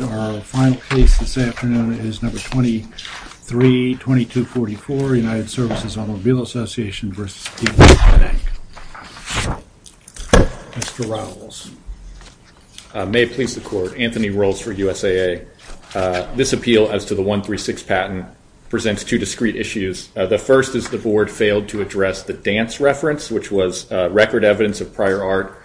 And our final case this afternoon is number 232244, United Services Automobile Association v. PNC Bank N.A. Mr. Rowles. May it please the Court, Anthony Rowles for USAA. This appeal as to the 136 patent presents two discrete issues. The first is the Board failed to address the dance reference, which was record evidence of prior art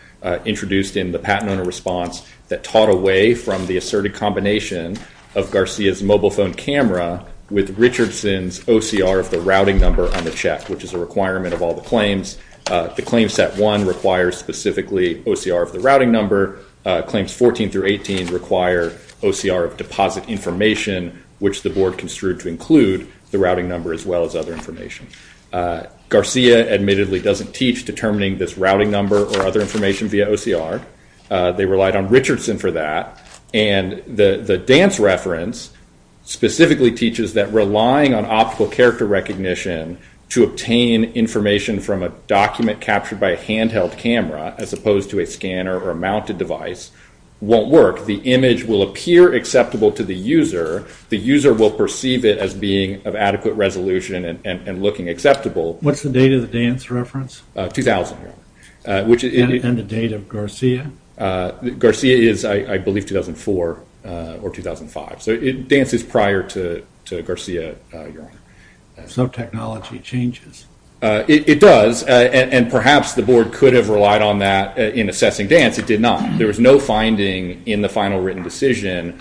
introduced in the patent owner response that taught away from the asserted combination of Garcia's mobile phone camera with Richardson's OCR of the routing number on the check, which is a requirement of all the claims. The claim set one requires specifically OCR of the routing number. Claims 14 through 18 require OCR of deposit information, which the Board construed to include the routing number as well as other information. Garcia admittedly doesn't teach determining this routing number or other information via OCR. They relied on Richardson for that. And the dance reference specifically teaches that relying on optical character recognition to obtain information from a document captured by a handheld camera, as opposed to a scanner or a mounted device, won't work. The image will appear acceptable to the user. The user will perceive it as being of adequate resolution and looking acceptable. What's the date of the dance reference? 2000. And the date of Garcia? Garcia is, I believe, 2004 or 2005. So it dances prior to Garcia, Your Honor. So technology changes. It does, and perhaps the Board could have relied on that in assessing dance. It did not. There was no finding in the final written decision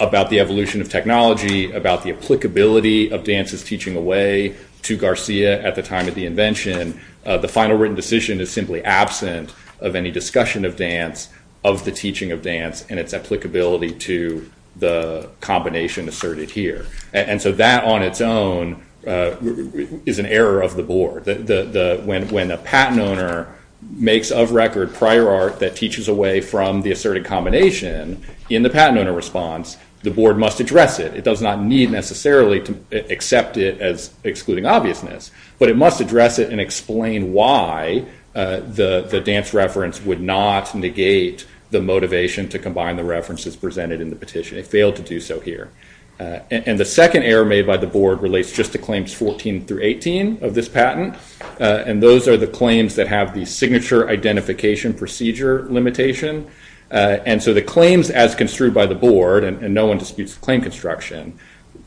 about the evolution of technology, about the applicability of dances teaching away to Garcia at the time of the invention. The final written decision is simply absent of any discussion of dance, of the teaching of dance, and its applicability to the combination asserted here. And so that on its own is an error of the Board. When a patent owner makes of record prior art that teaches away from the asserted combination, in the patent owner response, the Board must address it. It does not need necessarily to accept it as excluding obviousness, but it must address it and explain why the dance reference would not negate the motivation to combine the references presented in the petition. It failed to do so here. And the second error made by the Board relates just to claims 14 through 18 of this patent, and those are the claims that have the signature identification procedure limitation. And so the claims as construed by the Board, and no one disputes the claim construction,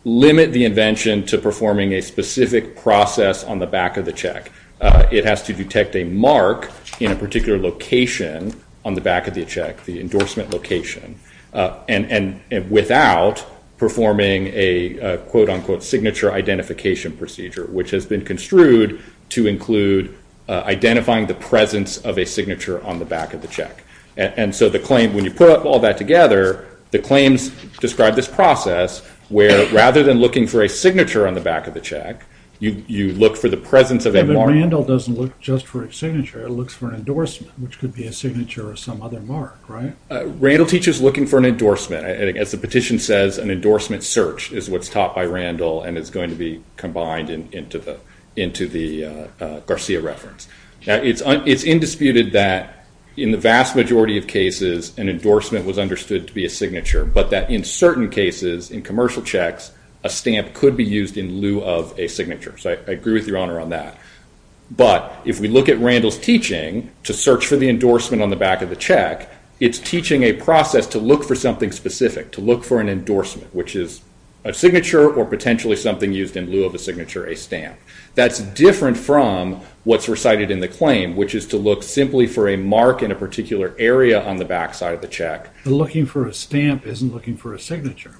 limit the invention to performing a specific process on the back of the check. It has to detect a mark in a particular location on the back of the check, the endorsement location, and without performing a quote-unquote signature identification procedure, which has been construed to include identifying the presence of a signature on the back of the check. And so the claim, when you put all that together, the claims describe this process where rather than looking for a signature on the back of the check, you look for the presence of a But Randall doesn't look just for a signature, he looks for an endorsement, which could be a signature or some other mark, right? Randall teaches looking for an endorsement, and as the petition says, an endorsement search is what's taught by Randall and is going to be combined into the Garcia reference. It's indisputed that in the vast majority of cases, an endorsement was understood to be a signature, but that in certain cases, in commercial checks, a stamp could be used in lieu of a signature, so I agree with your Honor on that. But if we look at Randall's teaching to search for the endorsement on the back of the check, it's teaching a process to look for something specific, to look for an endorsement, which is a signature or potentially something used in lieu of a signature, a stamp. That's different from what's recited in the claim, which is to look simply for a mark in a particular area on the back side of the check. Looking for a stamp isn't looking for a signature.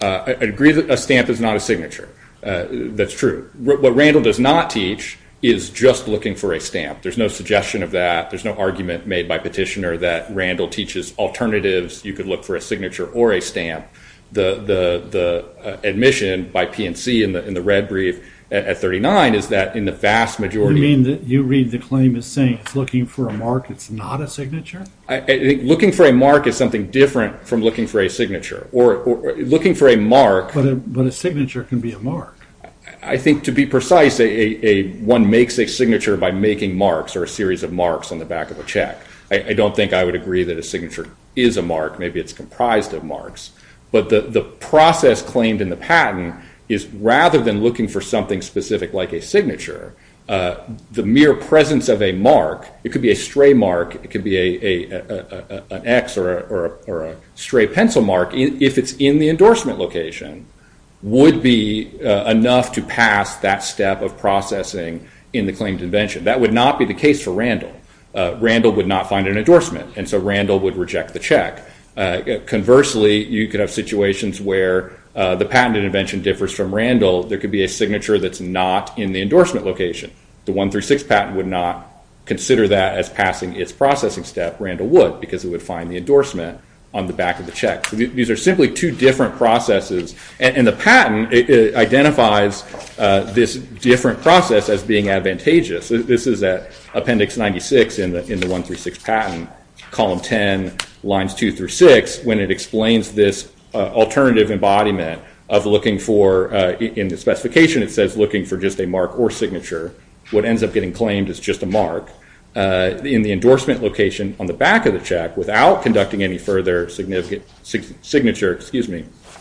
I agree that a stamp is not a signature. That's true. What Randall does not teach is just looking for a stamp. There's no suggestion of that. There's no argument made by Petitioner that Randall teaches alternatives. You could look for a signature or a stamp. The admission by P&C in the red brief at 39 is that in the vast majority- You mean that you read the claim as saying it's looking for a mark, it's not a signature? Looking for a mark is something different from looking for a signature, or looking for a mark- But a signature can be a mark. I think, to be precise, one makes a signature by making marks or a series of marks on the back of a check. I don't think I would agree that a signature is a mark. Maybe it's comprised of marks. But the process claimed in the patent is, rather than looking for something specific like a signature, the mere presence of a mark, it could be a stray mark, it could be an X or a stray pencil mark, if it's in the endorsement location, would be enough to pass that step of processing in the claimed invention. That would not be the case for Randall. Randall would not find an endorsement, and so Randall would reject the check. Conversely, you could have situations where the patent intervention differs from Randall. There could be a signature that's not in the endorsement location. The 136 patent would not consider that as passing its processing step. Randall would, because it would find the endorsement on the back of the check. These are simply two different processes, and the patent identifies this different process as being advantageous. This is at Appendix 96 in the 136 patent, Column 10, Lines 2 through 6, when it explains this alternative embodiment of looking for—in the specification, it says looking for just a mark or signature. What ends up getting claimed is just a mark. In the endorsement location on the back of the check, without conducting any further signature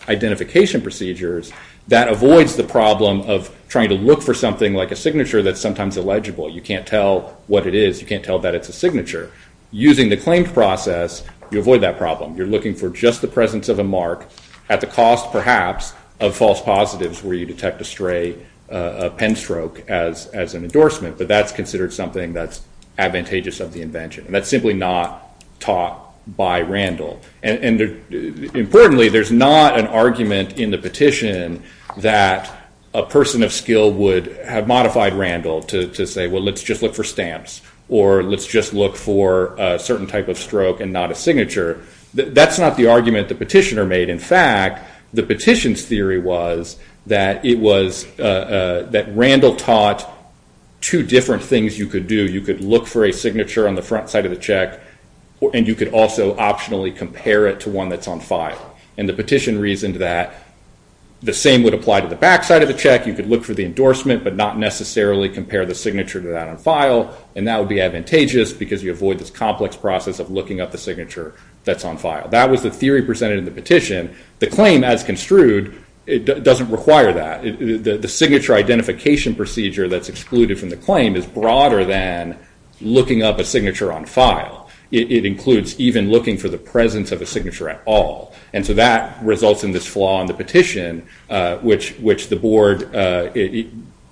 identification procedures, that avoids the problem of trying to look for something like a signature that's sometimes illegible. You can't tell what it is. You can't tell that it's a signature. Using the claimed process, you avoid that problem. You're looking for just the presence of a mark at the cost, perhaps, of false positives where you detect a stray pen stroke as an endorsement, but that's considered something that's advantageous of the invention. That's simply not taught by Randall. Importantly, there's not an argument in the petition that a person of skill would have modified Randall to say, well, let's just look for stamps, or let's just look for a certain type of stroke and not a signature. That's not the argument the petitioner made. In fact, the petition's theory was that it was—that Randall taught two different things you could do. You could look for a signature on the front side of the check, and you could also optionally compare it to one that's on file. And the petition reasoned that the same would apply to the back side of the check. You could look for the endorsement, but not necessarily compare the signature to that on file, and that would be advantageous because you avoid this complex process of looking up the signature that's on file. That was the theory presented in the petition. The claim, as construed, doesn't require that. The signature identification procedure that's excluded from the claim is broader than looking up a signature on file. It includes even looking for the presence of a signature at all. And so that results in this flaw in the petition, which the board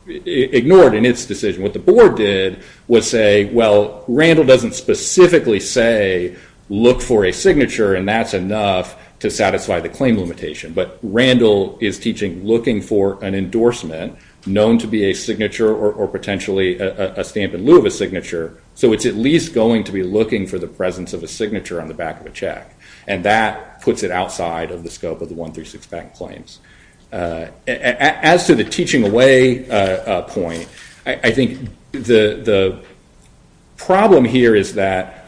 ignored in its decision. What the board did was say, well, Randall doesn't specifically say, look for a signature, and that's enough to satisfy the claim limitation. But Randall is teaching looking for an endorsement known to be a signature or potentially a stamp in lieu of a signature, so it's at least going to be looking for the presence of a signature on the back of a check. And that puts it outside of the scope of the 136 bank claims. As to the teaching away point, I think the problem here is that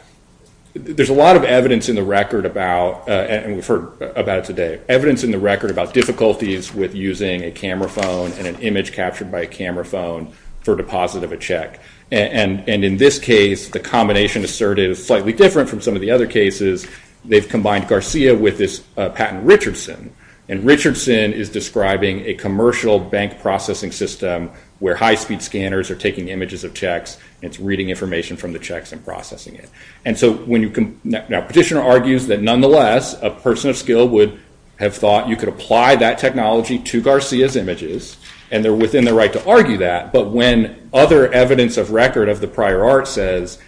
there's a lot of evidence in the record about, and we've heard about it today, evidence in the record about difficulties with using a camera phone and an image captured by a camera phone for deposit of a check. And in this case, the combination asserted is slightly different from some of the other cases. They've combined Garcia with this patent Richardson. And Richardson is describing a commercial bank processing system where high-speed scanners are taking images of checks, and it's reading information from the checks and processing it. And so when you can, now Petitioner argues that nonetheless, a person of skill would have thought you could apply that technology to Garcia's images, and they're within the right to argue that, but when other evidence of record of the prior art says,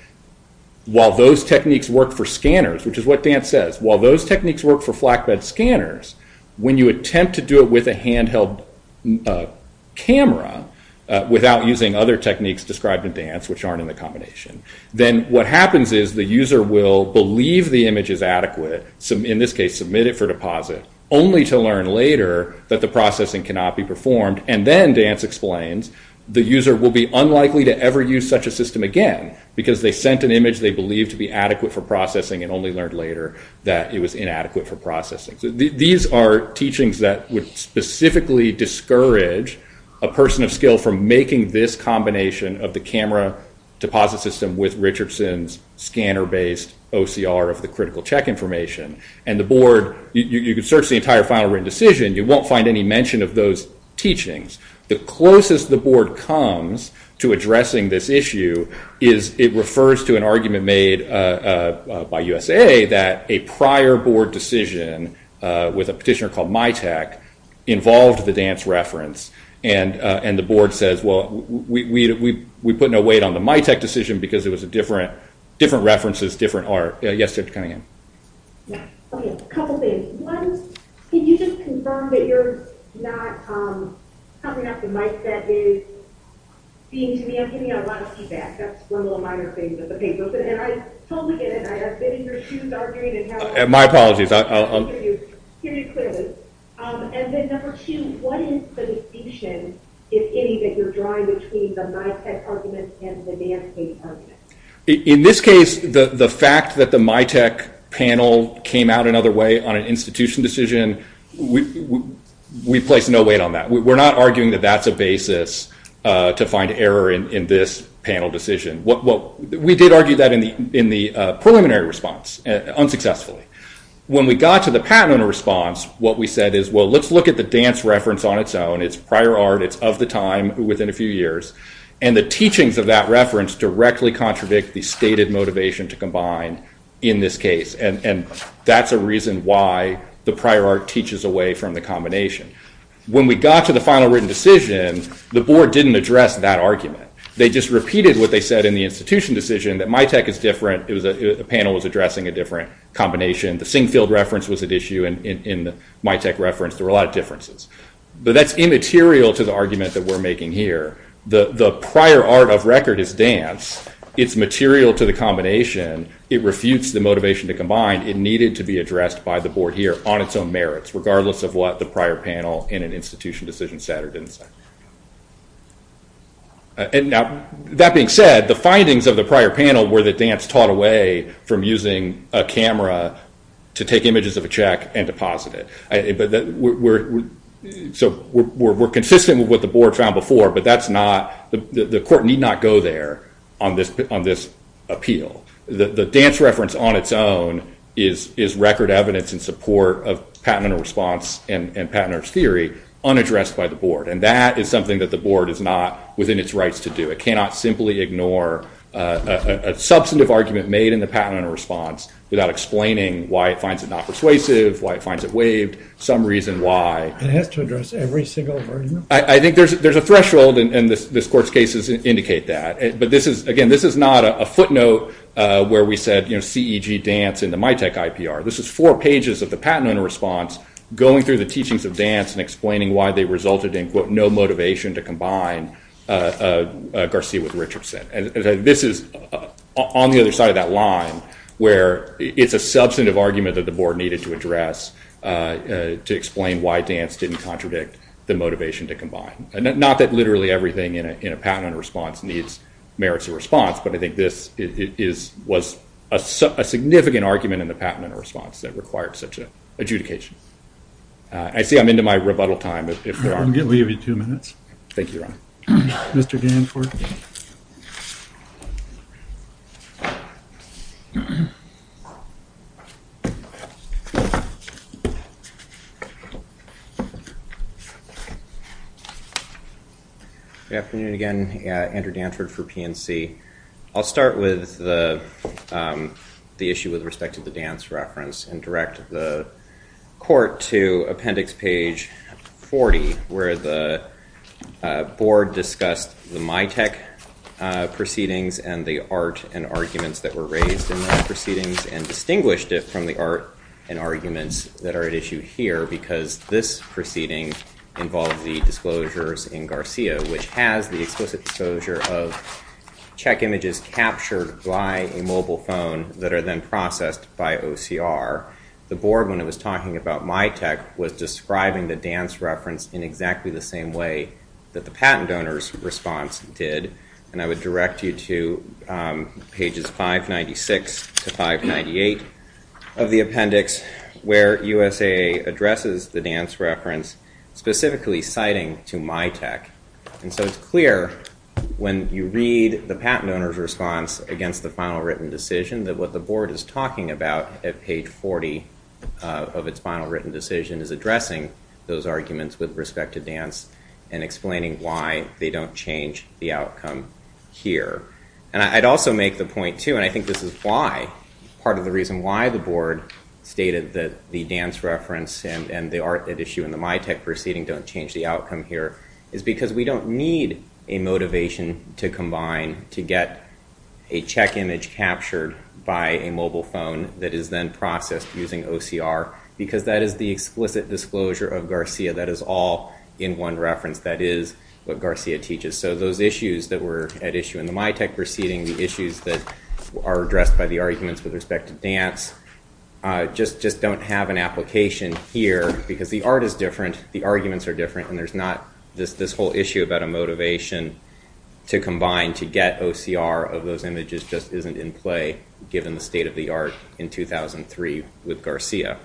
while those techniques work for scanners, which is what Dance says, while those techniques work for flatbed scanners, when you attempt to do it with a handheld camera without using other techniques described in Dance, which aren't in the combination, then what happens is the user will believe the image is adequate, in this case, submit it for deposit, only to learn later that the processing cannot be performed. And then, Dance explains, the user will be unlikely to ever use such a system again, because they sent an image they believed to be adequate for processing and only learned later that it was inadequate for processing. These are teachings that would specifically discourage a person of skill from making this combination of the camera deposit system with Richardson's scanner-based OCR of the critical check information. And the board, you can search the entire final written decision, you won't find any mention of those teachings. The closest the board comes to addressing this issue is, it refers to an argument made by USA that a prior board decision with a petitioner called MITAC involved the Dance reference. And the board says, well, we put no weight on the MITAC decision, because it was a different reference, different art. Yes, you have to come again. Okay, a couple things. One, can you just confirm that you're not cutting off the mic that is being to me? I'm getting a lot of feedback. That's one of the minor things with the paper. And I totally get it. I've been in your shoes arguing. My apologies. I'll hear you clearly. In this case, the fact that the MITAC panel came out another way on an institution decision, we place no weight on that. We're not arguing that that's a basis to find error in this panel decision. We did argue that in the preliminary response, unsuccessfully. When we got to the patent owner response, what we said is, well, let's look at the Dance reference on its own. It's prior art. It's of the time, within a few years. And the teachings of that reference directly contradict the stated motivation to combine in this case. And that's a reason why the prior art teaches away from the combination. When we got to the final written decision, the board didn't address that argument. They just repeated what they said in the institution decision, that MITAC is different. The panel was addressing a different combination. The Singfield reference was at issue. In the MITAC reference, there were a lot of differences. But that's immaterial to the argument that we're making here. The prior art of record is Dance. It's material to the combination. It refutes the motivation to combine. It needed to be addressed by the board here on its own merits, regardless of what the prior panel in an institution decision said or didn't say. And now, that being said, the findings of the prior panel were that Dance taught away from using a camera to take images of a check and deposit it. So we're consistent with what the board found before. But that's not, the court need not go there on this appeal. The Dance reference on its own is record evidence in support of patent and response and patenters theory unaddressed by the board. And that is something that the board is not within its rights to do. It cannot simply ignore a substantive argument made in the patent and response without explaining why it finds it not persuasive, why it finds it waived, some reason why. It has to address every single argument. I think there's a threshold, and this court's cases indicate that. But again, this is not a footnote where we said, you know, CEG Dance in the MITAC IPR. This is four pages of the patent and response going through the teachings of Dance and explaining why they resulted in, quote, no motivation to combine Garcia with Richardson. This is on the other side of that line where it's a substantive argument that the board needed to address to explain why Dance didn't contradict the motivation to combine. Not that literally everything in a patent and response needs merits of response, but I think this was a significant argument in the patent and response that required such an adjudication. I see I'm into my rebuttal time, if there are any. I'm going to give you two minutes. Thank you, Ron. Mr. Danford. Good afternoon again. Andrew Danford for PNC. I'll start with the issue with respect to the Dance reference and direct the court to appendix page 40, where the board discussed the MITAC proceedings and the art and arguments that were raised in those proceedings and distinguished it from the art and arguments that are at issue here, because this proceeding involved the disclosures in Garcia, which has the explicit disclosure of check images captured by a mobile phone that are then processed by OCR. The board, when it was talking about MITAC, was describing the Dance reference in exactly the same way that the patent owner's response did, and I would direct you to pages 596-598 of the appendix, where USAA addresses the Dance reference, specifically citing to MITAC. And so it's clear when you read the patent owner's response against the final written decision that what the board is talking about at page 40 of its final written decision is addressing those arguments with respect to Dance and explaining why they don't change the outcome here. And I'd also make the point, too, and I think this is why, part of the reason why the board stated that the Dance reference and the art at issue in the MITAC proceeding don't change the outcome here is because we don't need a motivation to combine to get a check image captured by a mobile phone that is then processed using OCR, because that is the explicit disclosure of Garcia. That is all in one reference. That is what Garcia teaches. So those issues that were at issue in the MITAC proceeding, the issues that are addressed by the arguments with respect to Dance, just don't have an application here because the art is different. The arguments are different, and there's not this whole issue about a motivation to combine to get OCR of those images just isn't in play given the state of the art in 2003 with Garcia.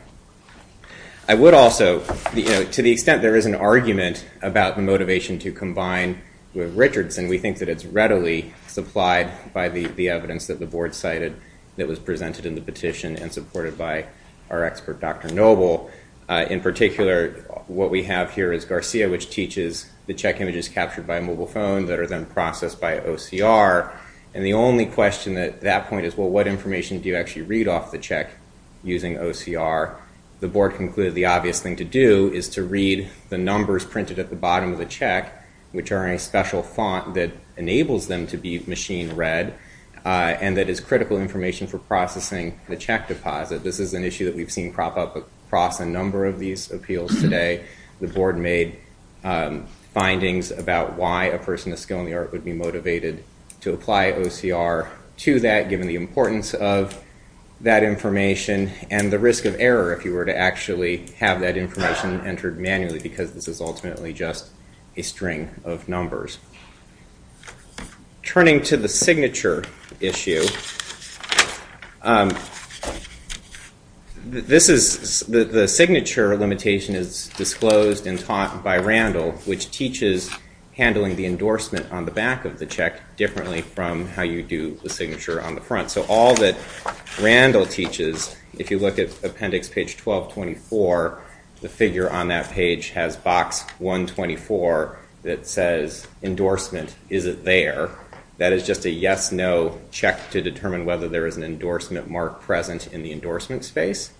I would also, to the extent there is an argument about the motivation to combine with Richardson, we think that it's readily supplied by the evidence that the board cited that was presented in the petition and supported by our expert, Dr. Noble. In particular, what we have here is Garcia, which teaches the check images captured by a mobile phone that are then processed by OCR, and the only question at that point is, well, what information do you actually read off the check using OCR? The board concluded the obvious thing to do is to read the numbers printed at the bottom of the check, which are in a special font that enables them to be machine read, and that is critical information for processing the check deposit. This is an issue that we've seen prop up across a number of these appeals today. The board made findings about why a person of skill in the art would be motivated to apply OCR to that given the importance of that information and the risk of error if you were to actually have that information entered manually because this is ultimately just a string of numbers. Turning to the signature issue, this is, the signature limitation is disclosed and taught by Randall, which teaches handling the endorsement on the back of the check differently from how you do the signature on the front. So all that Randall teaches, if you look at appendix page 1224, the figure on that page has box 124 that says endorsement, is it there? That is just a yes, no check to determine whether there is an endorsement mark present in the endorsement space.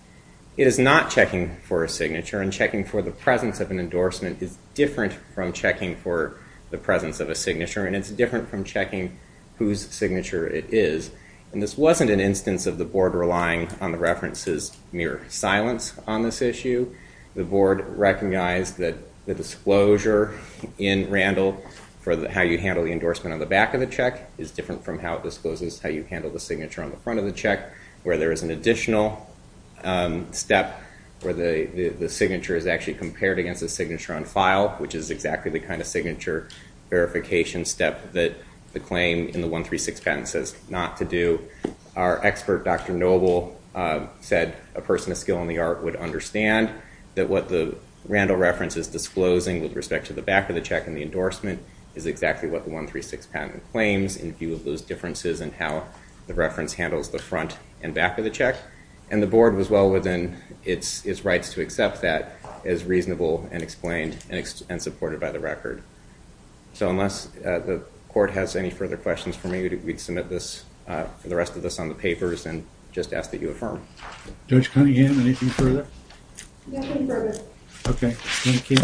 It is not checking for a signature and checking for the presence of an endorsement is different from checking for the presence of a signature and it's different from checking whose signature it is. And this wasn't an instance of the board relying on the references mere silence on this issue. The board recognized that the disclosure in Randall for how you handle the endorsement on the back of the check is different from how it discloses how you handle the signature on the front of the check where there is an additional step where the signature is actually compared against the signature on file, which is exactly the kind of signature verification step that the claim in the 136 patent says not to do. Our expert, Dr. Noble, said a person of skill in the art would understand that what the Randall reference is disclosing with respect to the back of the check and the endorsement is exactly what the 136 patent claims in view of those differences in how the reference handles the front and back of the check. And the board was well within its rights to accept that as reasonable and explained and supported by the record. So unless the court has any further questions for me, we'd submit this for the rest of this on the papers and just ask that you affirm. Judge Cunningham, anything further? Nothing further. Thank you.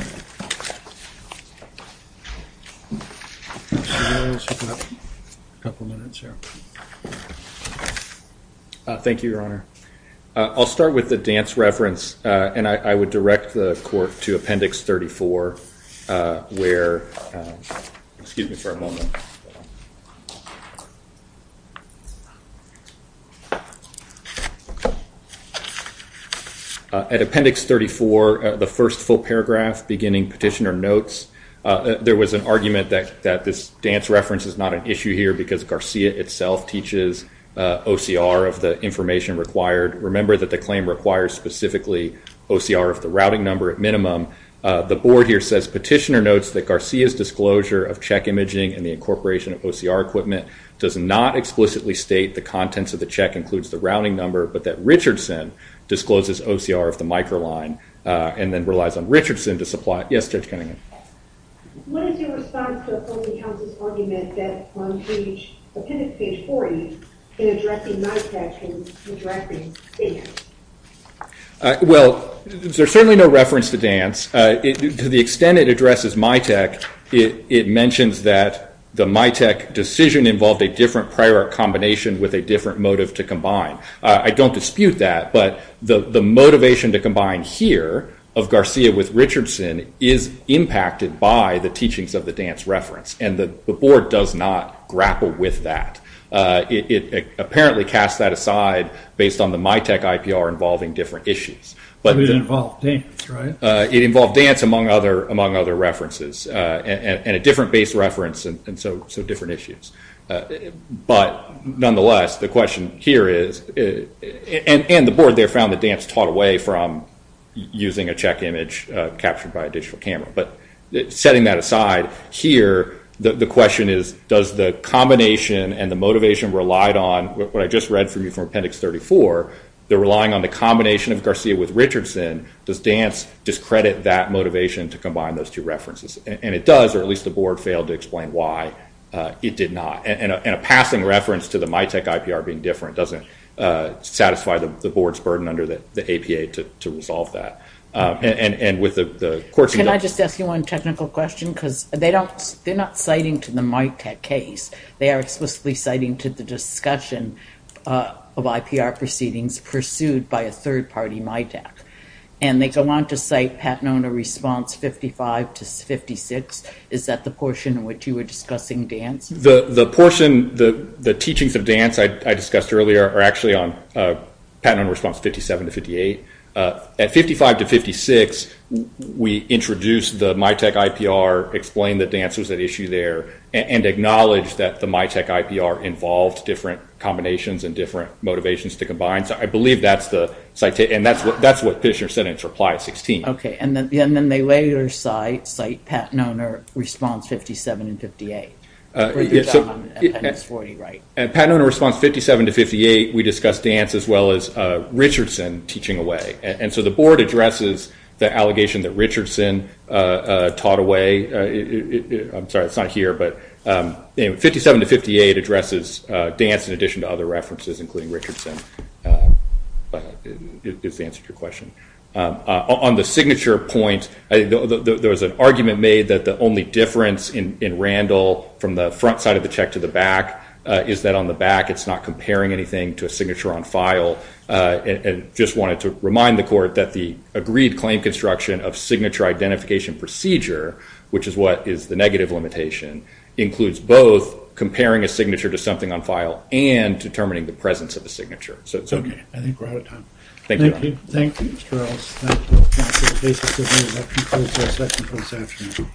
Thank you, Your Honor. I'll start with the dance reference, and I would direct the court to Appendix 34, where – excuse me for a moment. At Appendix 34, the first full paragraph beginning Petitioner Notes, there was an argument that this dance reference is not an issue here because Garcia itself teaches OCR of the information required. Remember that the claim requires specifically OCR of the routing number at minimum. The board here says Petitioner Notes that Garcia's disclosure of check imaging and the incorporation of OCR equipment does not explicitly state the contents of the check includes the routing number, but that Richardson discloses OCR of the micro line and then relies on Richardson to supply – yes, Judge Cunningham. What is your response to a public counsel's argument that on page – Appendix 40, in addressing MITAC, in addressing dance? Well, there's certainly no reference to dance. To the extent it addresses MITAC, it mentions that the MITAC decision involved a different prior combination with a different motive to combine. I don't dispute that, but the motivation to combine here of Garcia with Richardson is impacted by the teachings of the dance reference, and the board does not grapple with that. It apparently casts that aside based on the MITAC IPR involving different issues. But it involved dance, right? It involved dance, among other references, and a different base reference, and so different issues. But nonetheless, the question here is – and the board there found that dance taught away from using a check image captured by a digital camera. But setting that aside, here, the question is, does the combination and the motivation relied on what I just read from you from Appendix 34, the relying on the combination of Garcia with Richardson, does dance discredit that motivation to combine those two references? And it does, or at least the board failed to explain why it did not. And a passing reference to the MITAC IPR being different doesn't satisfy the board's burden under the APA to resolve that. Can I just ask you one technical question? Because they're not citing to the MITAC case. They are explicitly citing to the discussion of IPR proceedings pursued by a third-party MITAC. And they go on to cite Patnona response 55 to 56. Is that the portion in which you were discussing dance? The portion, the teachings of dance I discussed earlier are actually on Patnona response 57 to 58. At 55 to 56, we introduced the MITAC IPR, explained that dance was at issue there, and acknowledged that the MITAC IPR involved different combinations and different motivations to combine. So I believe that's the citation. And that's what Pitchner said in his reply at 16. OK. And then they later cite Patnona response 57 and 58. And it's 40, right? At Patnona response 57 to 58, we discussed dance as well as Richardson teaching away. And so the board addresses the allegation that Richardson taught away. I'm sorry, it's not here. But 57 to 58 addresses dance in addition to other references, including Richardson, is the answer to your question. On the signature point, there was an argument made that the only difference in Randall from the front side of the check to the back is that on the back, it's not comparing anything to a signature on file. And just wanted to remind the court that the agreed claim construction of signature identification procedure, which is what is the negative limitation, includes both comparing a signature to something on file and determining the presence of the signature. So it's OK. I think we're out of time. Thank you. Thank you, Charles. That concludes our session for this afternoon.